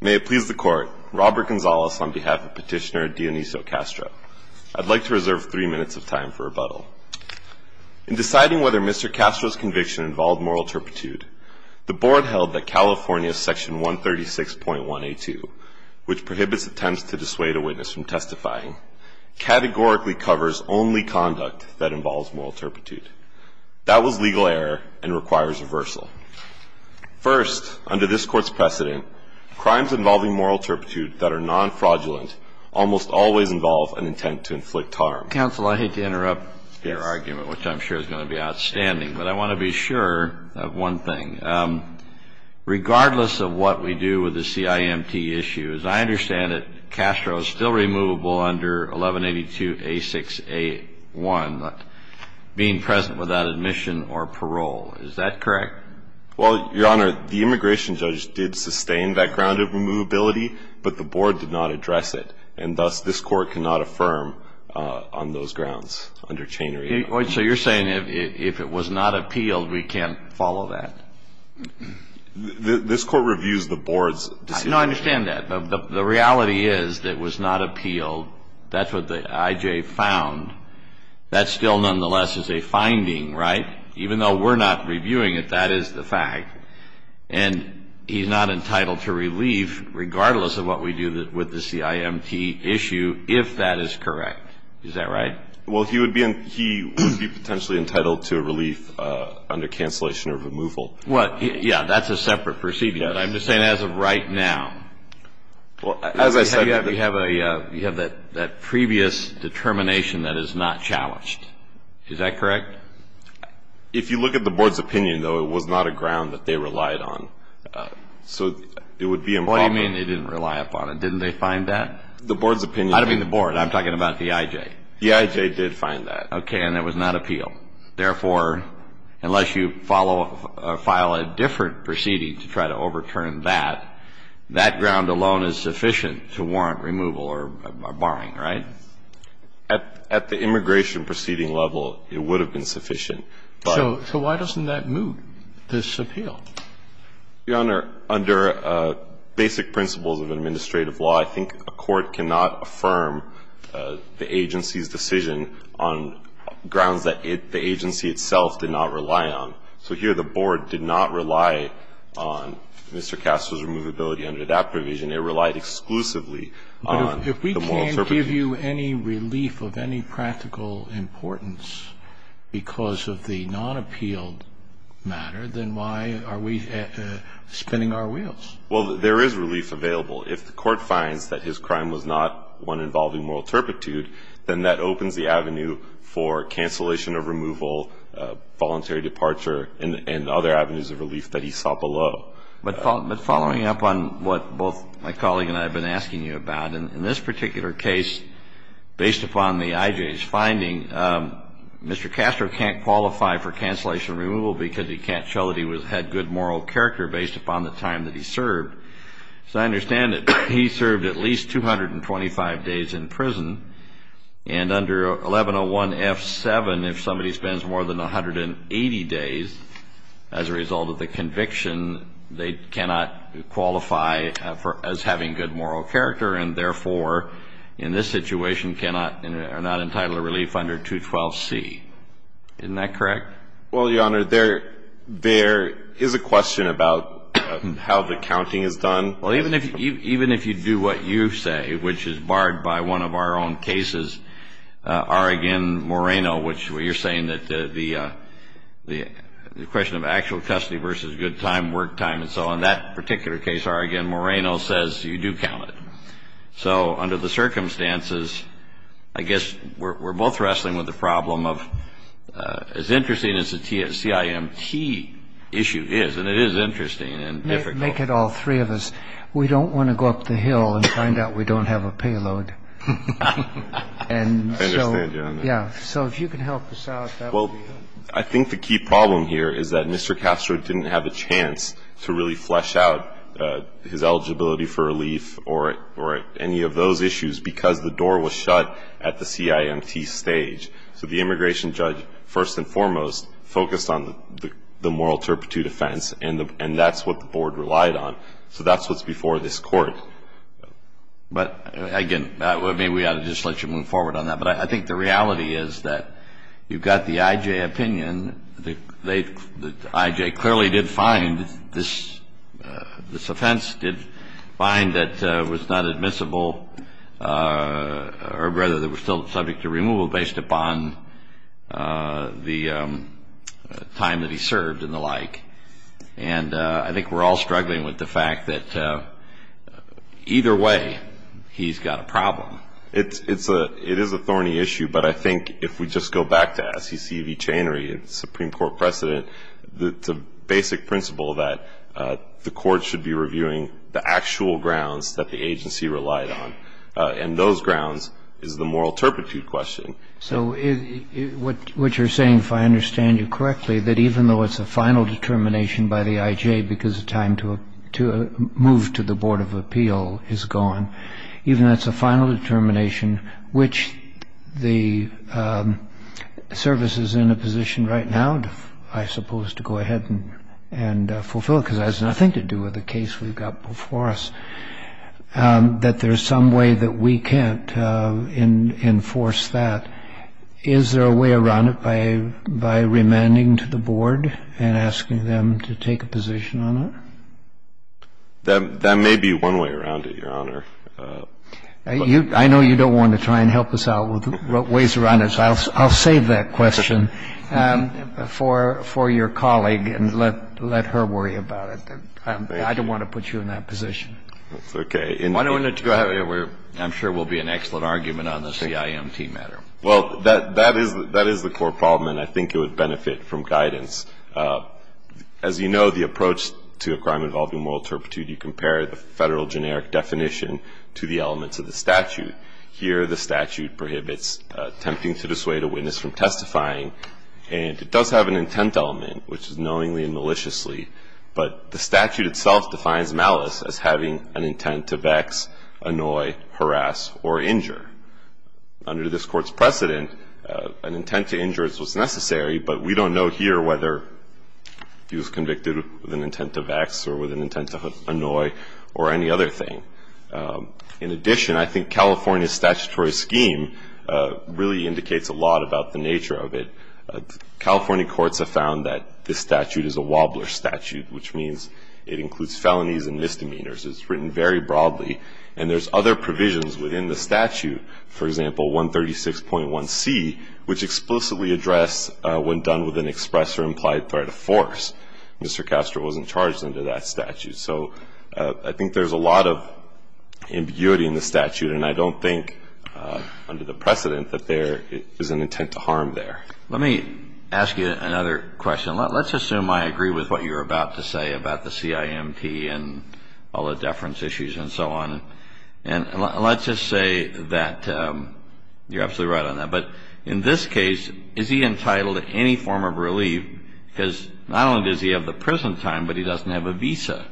May it please the Court, Robert Gonzales on behalf of Petitioner Dioniso Castro. I'd like to reserve three minutes of time for rebuttal. In deciding whether Mr. Castro's conviction involved moral turpitude, the Board held that California's Section 136.1A2, which prohibits attempts to dissuade a witness from testifying, categorically covers only conduct that involves moral turpitude. That was legal error and requires reversal. First, under this Court's precedent, crimes involving moral turpitude that are non-fraudulent almost always involve an intent to inflict harm. Counsel, I hate to interrupt your argument, which I'm sure is going to be outstanding, but I want to be sure of one thing. Regardless of what we do with the CIMT issue, as I understand it, Castro is still removable under 1182A6A1, being present without admission or parole. Is that correct? Well, Your Honor, the immigration judge did sustain that grounded removability, but the Board did not address it. And thus, this Court cannot affirm on those grounds under Chain Reaction. So you're saying if it was not appealed, we can't follow that? This Court reviews the Board's decision. No, I understand that. The reality is that it was not appealed. That's what the IJ found. That still, nonetheless, is a finding, right? Even though we're not reviewing it, that is the fact. And he's not entitled to relief, regardless of what we do with the CIMT issue, if that is correct. Is that right? Well, he would be potentially entitled to relief under cancellation or removal. Well, yeah. That's a separate procedure. But I'm just saying as of right now. Well, as I said. You have that previous determination that is not challenged. Is that correct? If you look at the Board's opinion, though, it was not a ground that they relied on. So it would be improper. What do you mean they didn't rely upon it? Didn't they find that? The Board's opinion. I don't mean the Board. I'm talking about the IJ. The IJ did find that. Okay. And it was not appealed. Therefore, unless you file a different proceeding to try to overturn that, that ground alone is sufficient to warrant removal or barring, right? At the immigration proceeding level, it would have been sufficient. So why doesn't that move this appeal? Your Honor, under basic principles of administrative law, I think a court cannot affirm the agency's decision on grounds that the agency itself did not rely on. So here the Board did not rely on Mr. Castor's removability under that provision. It relied exclusively on the moral interpretation. But if we can't give you any relief of any practical importance because of the non-appealed matter, then why are we spinning our wheels? Well, there is relief available. If the Court finds that his crime was not one involving moral turpitude, then that opens the avenue for cancellation of removal, voluntary departure, and other avenues of relief that he saw below. But following up on what both my colleague and I have been asking you about, in this particular case, based upon the IJ's finding, Mr. Castor can't qualify for cancellation of removal because he can't show that he had good moral character based upon the time that he served. So I understand that he served at least 225 days in prison. And under 1101F7, if somebody spends more than 180 days as a result of the conviction, they cannot qualify as having good moral character and, therefore, in this situation are not entitled to relief under 212C. Isn't that correct? Well, Your Honor, there is a question about how the counting is done. Well, even if you do what you say, which is barred by one of our own cases, Oregon Moreno, which you're saying that the question of actual custody versus good time, work time, and so on, that particular case, Oregon Moreno, says you do count it. So under the circumstances, I guess we're both wrestling with the problem of as interesting as the CIMT issue is, and it is interesting and difficult. Make it all three of us. We don't want to go up the hill and find out we don't have a payload. I understand, Your Honor. Yeah. So if you can help us out, that would be helpful. I think the key problem here is that Mr. Castro didn't have a chance to really flesh out his eligibility for relief or any of those issues because the door was shut at the CIMT stage. So the immigration judge, first and foremost, focused on the moral turpitude offense, and that's what the Board relied on. So that's what's before this Court. But, again, maybe we ought to just let you move forward on that. But I think the reality is that you've got the IJ opinion. The IJ clearly did find this offense did find that it was not admissible or rather that it was still subject to removal based upon the time that he served and the like. And I think we're all struggling with the fact that either way, he's got a problem. It is a thorny issue. But I think if we just go back to SCC v. Chanery and Supreme Court precedent, the basic principle that the Court should be reviewing the actual grounds that the agency relied on, and those grounds is the moral turpitude question. So what you're saying, if I understand you correctly, that even though it's a final determination by the IJ because the time to move to the Board of Appeal is gone, even though it's a final determination which the service is in a position right now, I suppose, to go ahead and fulfill because it has nothing to do with the case we've got before us, that there's some way that we can't enforce that, is there a way around it by remanding to the Board and asking them to take a position on it? That may be one way around it, Your Honor. I know you don't want to try and help us out with ways around it, so I'll save that question for your colleague and let her worry about it. Thank you. I don't want to put you in that position. That's okay. I'm sure it will be an excellent argument on the CIMT matter. Well, that is the core problem, and I think it would benefit from guidance. As you know, the approach to a crime involving moral turpitude, you compare the federal generic definition to the elements of the statute. Here, the statute prohibits attempting to dissuade a witness from testifying, and it does have an intent element, which is knowingly and maliciously, but the statute itself defines malice as having an intent to vex, annoy, harass, or injure. Under this Court's precedent, an intent to injure is what's necessary, but we don't know here whether he was convicted with an intent to vex or with an intent to annoy or any other thing. In addition, I think California's statutory scheme really indicates a lot about the nature of it. California courts have found that this statute is a wobbler statute, which means it includes felonies and misdemeanors. It's written very broadly, and there's other provisions within the statute. For example, 136.1c, which explicitly addressed when done with an express or implied threat of force, Mr. Castro wasn't charged under that statute. So I think there's a lot of ambiguity in the statute, and I don't think under the precedent that there is an intent to harm there. Let me ask you another question. Let's assume I agree with what you're about to say about the CIMT and all the deference issues and so on. And let's just say that you're absolutely right on that. But in this case, is he entitled to any form of relief? Because not only does he have the prison time, but he doesn't have a visa.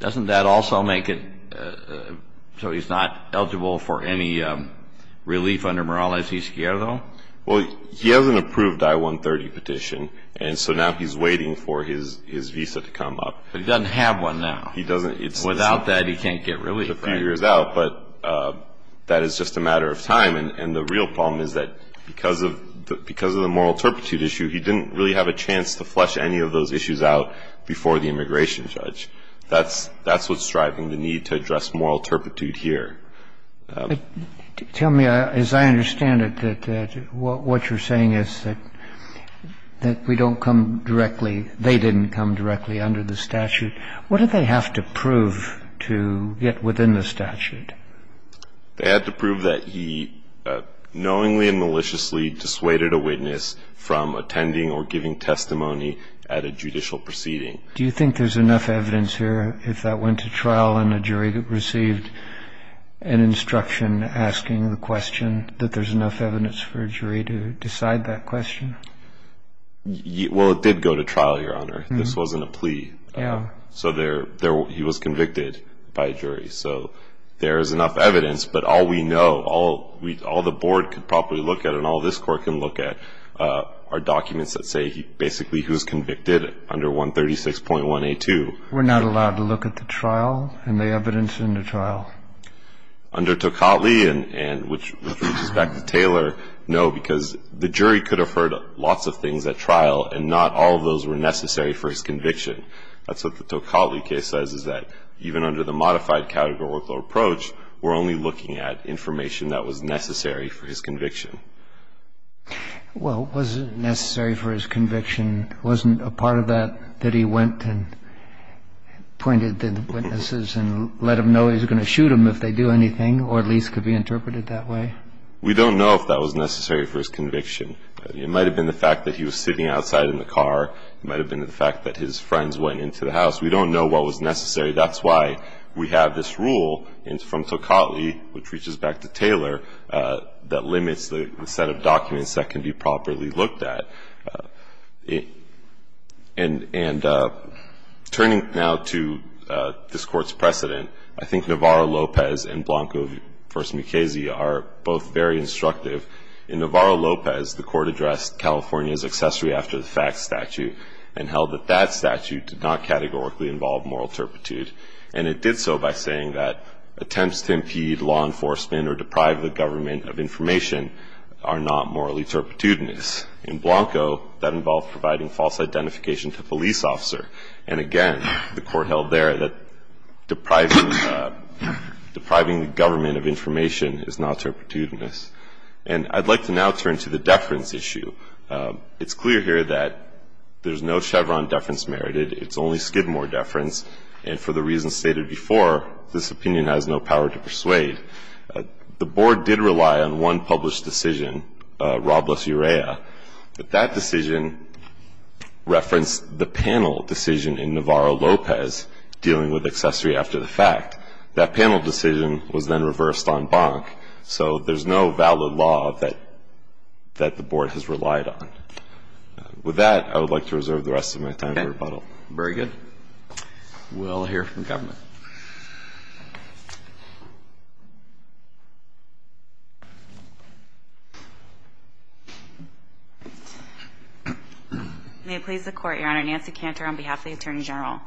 Doesn't that also make it so he's not eligible for any relief under Morales-Escuero? Well, he has an approved I-130 petition, and so now he's waiting for his visa to come up. But he doesn't have one now. He doesn't. Without that, he can't get relief. A few years out. But that is just a matter of time. And the real problem is that because of the moral turpitude issue, he didn't really have a chance to flesh any of those issues out before the immigration judge. That's what's driving the need to address moral turpitude here. Tell me, as I understand it, that what you're saying is that we don't come directly under the statute. What did they have to prove to get within the statute? They had to prove that he knowingly and maliciously dissuaded a witness from attending or giving testimony at a judicial proceeding. Do you think there's enough evidence here if that went to trial and a jury received an instruction asking the question, that there's enough evidence for a jury to decide that question? Well, it did go to trial, Your Honor. This wasn't a plea. So he was convicted by a jury. So there is enough evidence. But all we know, all the board could probably look at and all this court can look at are documents that say basically he was convicted under 136.1A2. We're not allowed to look at the trial and the evidence in the trial? Under Tocatli, and which reaches back to Taylor, no, because the jury could have heard lots of things at trial, and not all of those were necessary for his conviction. That's what the Tocatli case says, is that even under the modified category workload approach, we're only looking at information that was necessary for his conviction. Well, was it necessary for his conviction? Wasn't a part of that that he went and pointed to the witnesses and let them know he was going to shoot them if they do anything, or at least could be interpreted that way? We don't know if that was necessary for his conviction. It might have been the fact that he was sitting outside in the car. It might have been the fact that his friends went into the house. We don't know what was necessary. That's why we have this rule from Tocatli, which reaches back to Taylor, that limits the set of documents that can be properly looked at. And turning now to this Court's precedent, I think Navarro-Lopez and Blanco v. Mckayse are both very instructive. In Navarro-Lopez, the Court addressed California's accessory after the facts statute and held that that statute did not categorically involve moral turpitude. And it did so by saying that attempts to impede law enforcement or deprive the government of information are not morally turpitudinous. In Blanco, that involved providing false identification to a police officer. And again, the Court held there that depriving the government of information is not turpitudinous. And I'd like to now turn to the deference issue. It's clear here that there's no Chevron deference merited. It's only Skidmore deference. And for the reasons stated before, this opinion has no power to persuade. The Board did rely on one published decision, Robles-Urea. But that decision referenced the panel decision in Navarro-Lopez dealing with accessory after the fact. That panel decision was then reversed on Bonk. So there's no valid law that the Board has relied on. With that, I would like to reserve the rest of my time for rebuttal. Okay. Very good. We'll hear from government. May it please the Court, Your Honor. Nancy Cantor on behalf of the Attorney General.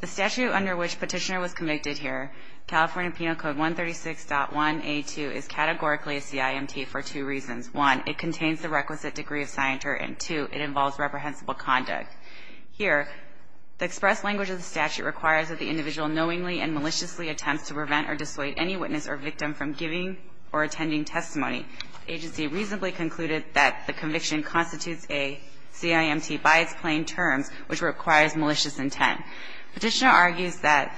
The statute under which Petitioner was convicted here, California Penal Code 136.1A2, is categorically a CIMT for two reasons. One, it contains the requisite degree of scienter. And two, it involves reprehensible conduct. Here, the express language of the statute requires that the individual knowingly and maliciously attempts to prevent or dissuade any witness or victim from giving or attending testimony. The agency reasonably concluded that the conviction constitutes a CIMT by its plain terms, which requires malicious intent. Petitioner argues that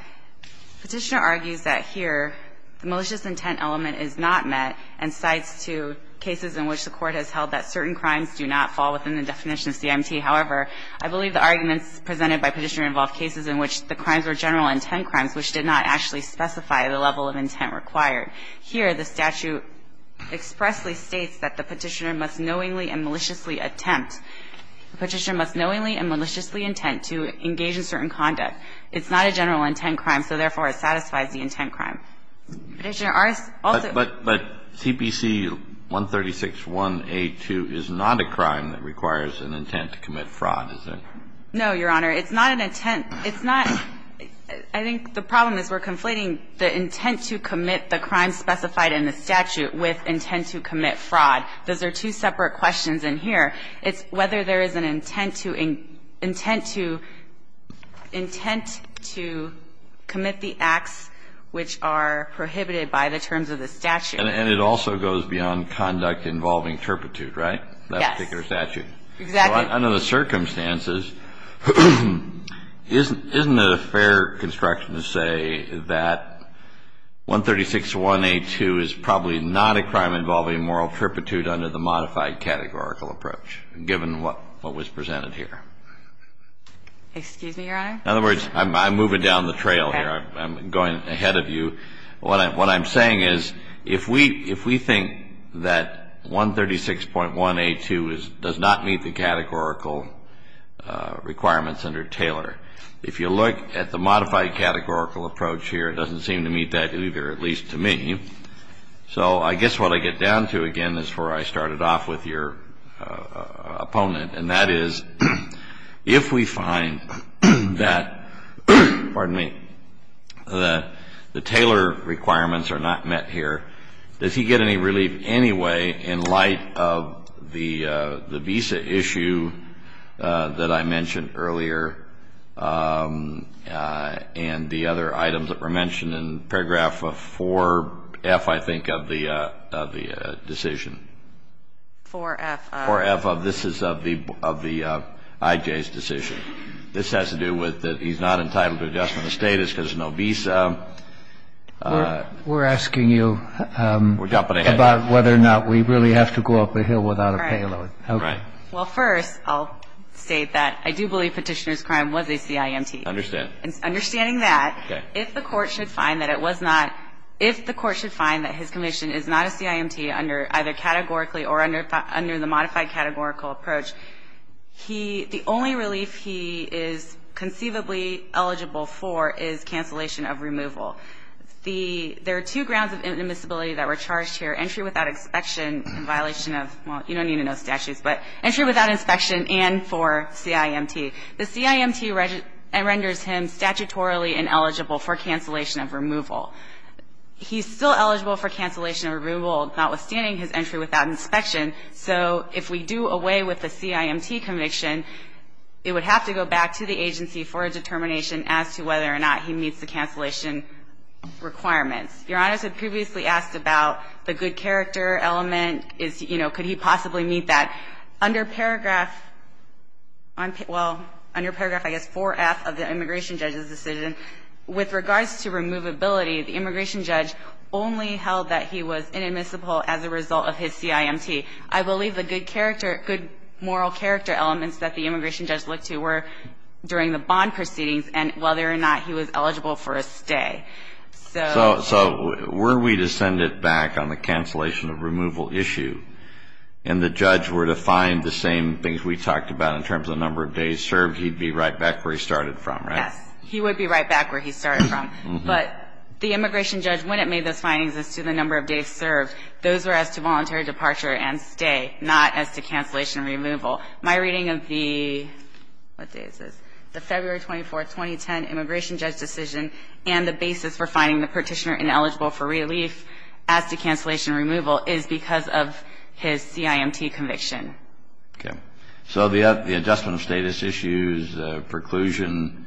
Petitioner argues that here the malicious intent element is not met and cites two cases in which the Court has held that certain crimes do not fall within the definition of CIMT. However, I believe the arguments presented by Petitioner involve cases in which the crimes were general intent crimes, which did not actually specify the level of intent required. Here, the statute expressly states that the Petitioner must knowingly and maliciously attempt. The Petitioner must knowingly and maliciously intend to engage in certain conduct. It's not a general intent crime, so therefore it satisfies the intent crime. Petitioner also argues that there is not a crime that requires an intent to commit fraud. The Petitioner does not, Your Honor. It's not an intent. It's not – I think the problem is we're conflating the intent to commit the crime specified in the statute with intent to commit fraud. Those are two separate questions in here. It's whether there is an intent to commit the acts which are prohibited by the terms of the statute. And it also goes beyond conduct involving turpitude, right? That particular statute. Exactly. Now, under the circumstances, isn't it a fair construction to say that 136.1a2 is probably not a crime involving moral turpitude under the modified categorical approach, given what was presented here? Excuse me, Your Honor? In other words, I'm moving down the trail here. I'm going ahead of you. What I'm saying is if we think that 136.1a2 does not meet the categorical requirements under Taylor, if you look at the modified categorical approach here, it doesn't seem to meet that either, at least to me. So I guess what I get down to, again, is where I started off with your opponent. And that is if we find that the Taylor requirements are not met here, does he get any relief anyway in light of the visa issue that I mentioned earlier and the other items that were mentioned in paragraph 4F, I think, of the decision? 4F of? This is of the I.J.'s decision. This has to do with that he's not entitled to adjustment of status because of no visa. We're asking you about whether or not we really have to go up a hill without a payload. Right. Well, first, I'll state that I do believe Petitioner's crime was a CIMT. Understand. Understanding that, if the Court should find that it was not – if the Court should find that his conviction is not a CIMT under either categorically or under the modified categorical approach, he – the only relief he is conceivably eligible for is cancellation of removal. The – there are two grounds of inadmissibility that were charged here, entry without inspection in violation of – well, you don't need to know statutes, but entry without inspection and for CIMT. The CIMT renders him statutorily ineligible for cancellation of removal. He's still eligible for cancellation of removal notwithstanding his entry without inspection. So if we do away with the CIMT conviction, it would have to go back to the agency for a determination as to whether or not he meets the cancellation requirements. Your Honors had previously asked about the good character element. Is – you know, could he possibly meet that? Under paragraph – well, under paragraph, I guess, 4F of the immigration judge's With regards to removability, the immigration judge only held that he was inadmissible as a result of his CIMT. I believe the good character – good moral character elements that the immigration judge looked to were during the bond proceedings and whether or not he was eligible for a stay. So – So were we to send it back on the cancellation of removal issue and the judge were to find the same things we talked about in terms of the number of days served, he'd be right back where he started from, right? Yes. He would be right back where he started from. But the immigration judge, when it made those findings as to the number of days served, those were as to voluntary departure and stay, not as to cancellation removal. My reading of the – what day is this? The February 24, 2010 immigration judge decision and the basis for finding the petitioner ineligible for relief as to cancellation removal is because of his CIMT conviction. Okay. So the adjustment of status issues, preclusion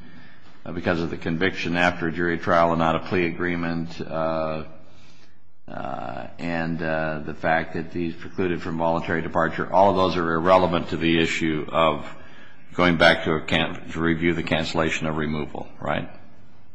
because of the conviction after jury trial and not a plea agreement, and the fact that he's precluded from voluntary departure, all of those are irrelevant to the issue of going back to review the cancellation of removal, right?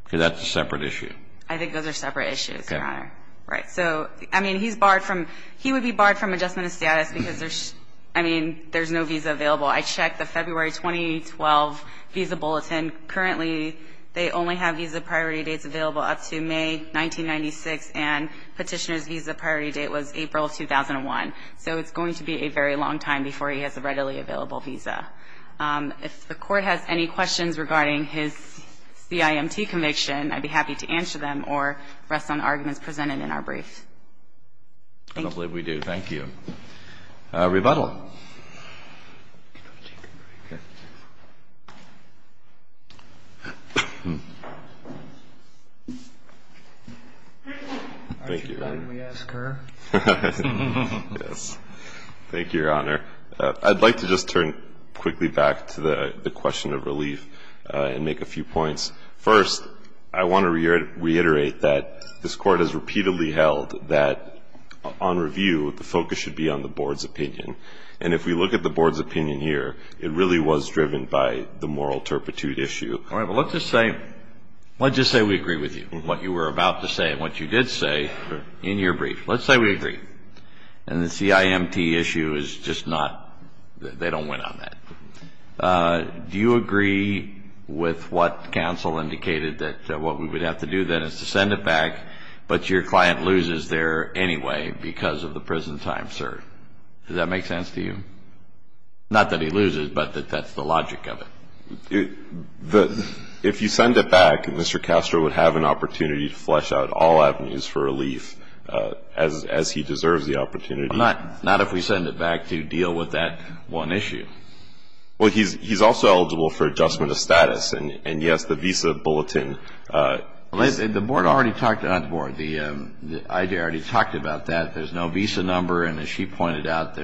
Because that's a separate issue. I think those are separate issues, Your Honor. Okay. Right. So, I mean, he's barred from – he would be barred from adjustment of status because there's – I mean, there's no visa available. I checked the February 2012 visa bulletin. Currently, they only have visa priority dates available up to May 1996, and petitioner's visa priority date was April of 2001. So it's going to be a very long time before he has a readily available visa. If the Court has any questions regarding his CIMT conviction, I'd be happy to answer them or rest on arguments presented in our brief. I don't believe we do. Thank you. Rebuttal. Thank you, Your Honor. Aren't you glad we asked her? Yes. Thank you, Your Honor. I'd like to just turn quickly back to the question of relief and make a few points. First, I want to reiterate that this Court has repeatedly held that on review, the focus should be on the Board's opinion. And if we look at the Board's opinion here, it really was driven by the moral turpitude issue. All right. But let's just say – let's just say we agree with you on what you were about to say and what you did say in your brief. Let's say we agree. And the CIMT issue is just not – they don't win on that. Do you agree with what counsel indicated that what we would have to do then is to send it back, but your client loses there anyway because of the prison time, sir? Does that make sense to you? Not that he loses, but that that's the logic of it. If you send it back, Mr. Castro would have an opportunity to flesh out all avenues for relief, as he deserves the opportunity. Not if we send it back to deal with that one issue. Well, he's also eligible for adjustment of status. And, yes, the visa bulletin. The Board already talked – not the Board. The IG already talked about that. There's no visa number. And as she pointed out,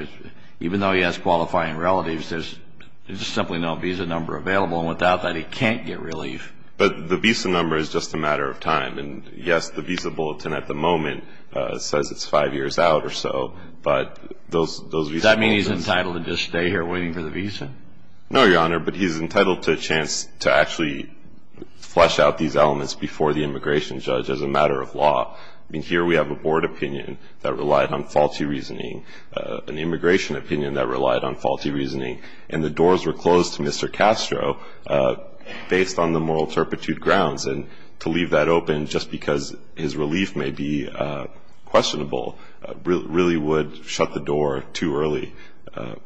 even though he has qualifying relatives, there's simply no visa number available. And without that, he can't get relief. But the visa number is just a matter of time. And, yes, the visa bulletin at the moment says it's five years out or so. But those visas – Does that mean he's entitled to just stay here waiting for the visa? No, Your Honor, but he's entitled to a chance to actually flesh out these elements before the immigration judge as a matter of law. I mean, here we have a Board opinion that relied on faulty reasoning, an immigration opinion that relied on faulty reasoning, and the doors were closed to Mr. Castro based on the moral turpitude grounds. And to leave that open just because his relief may be questionable really would shut the door too early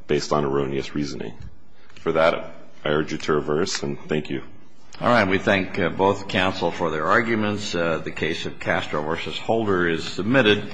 based on erroneous reasoning. For that, I urge you to reverse, and thank you. All right. We thank both counsel for their arguments. The case of Castro v. Holder is submitted.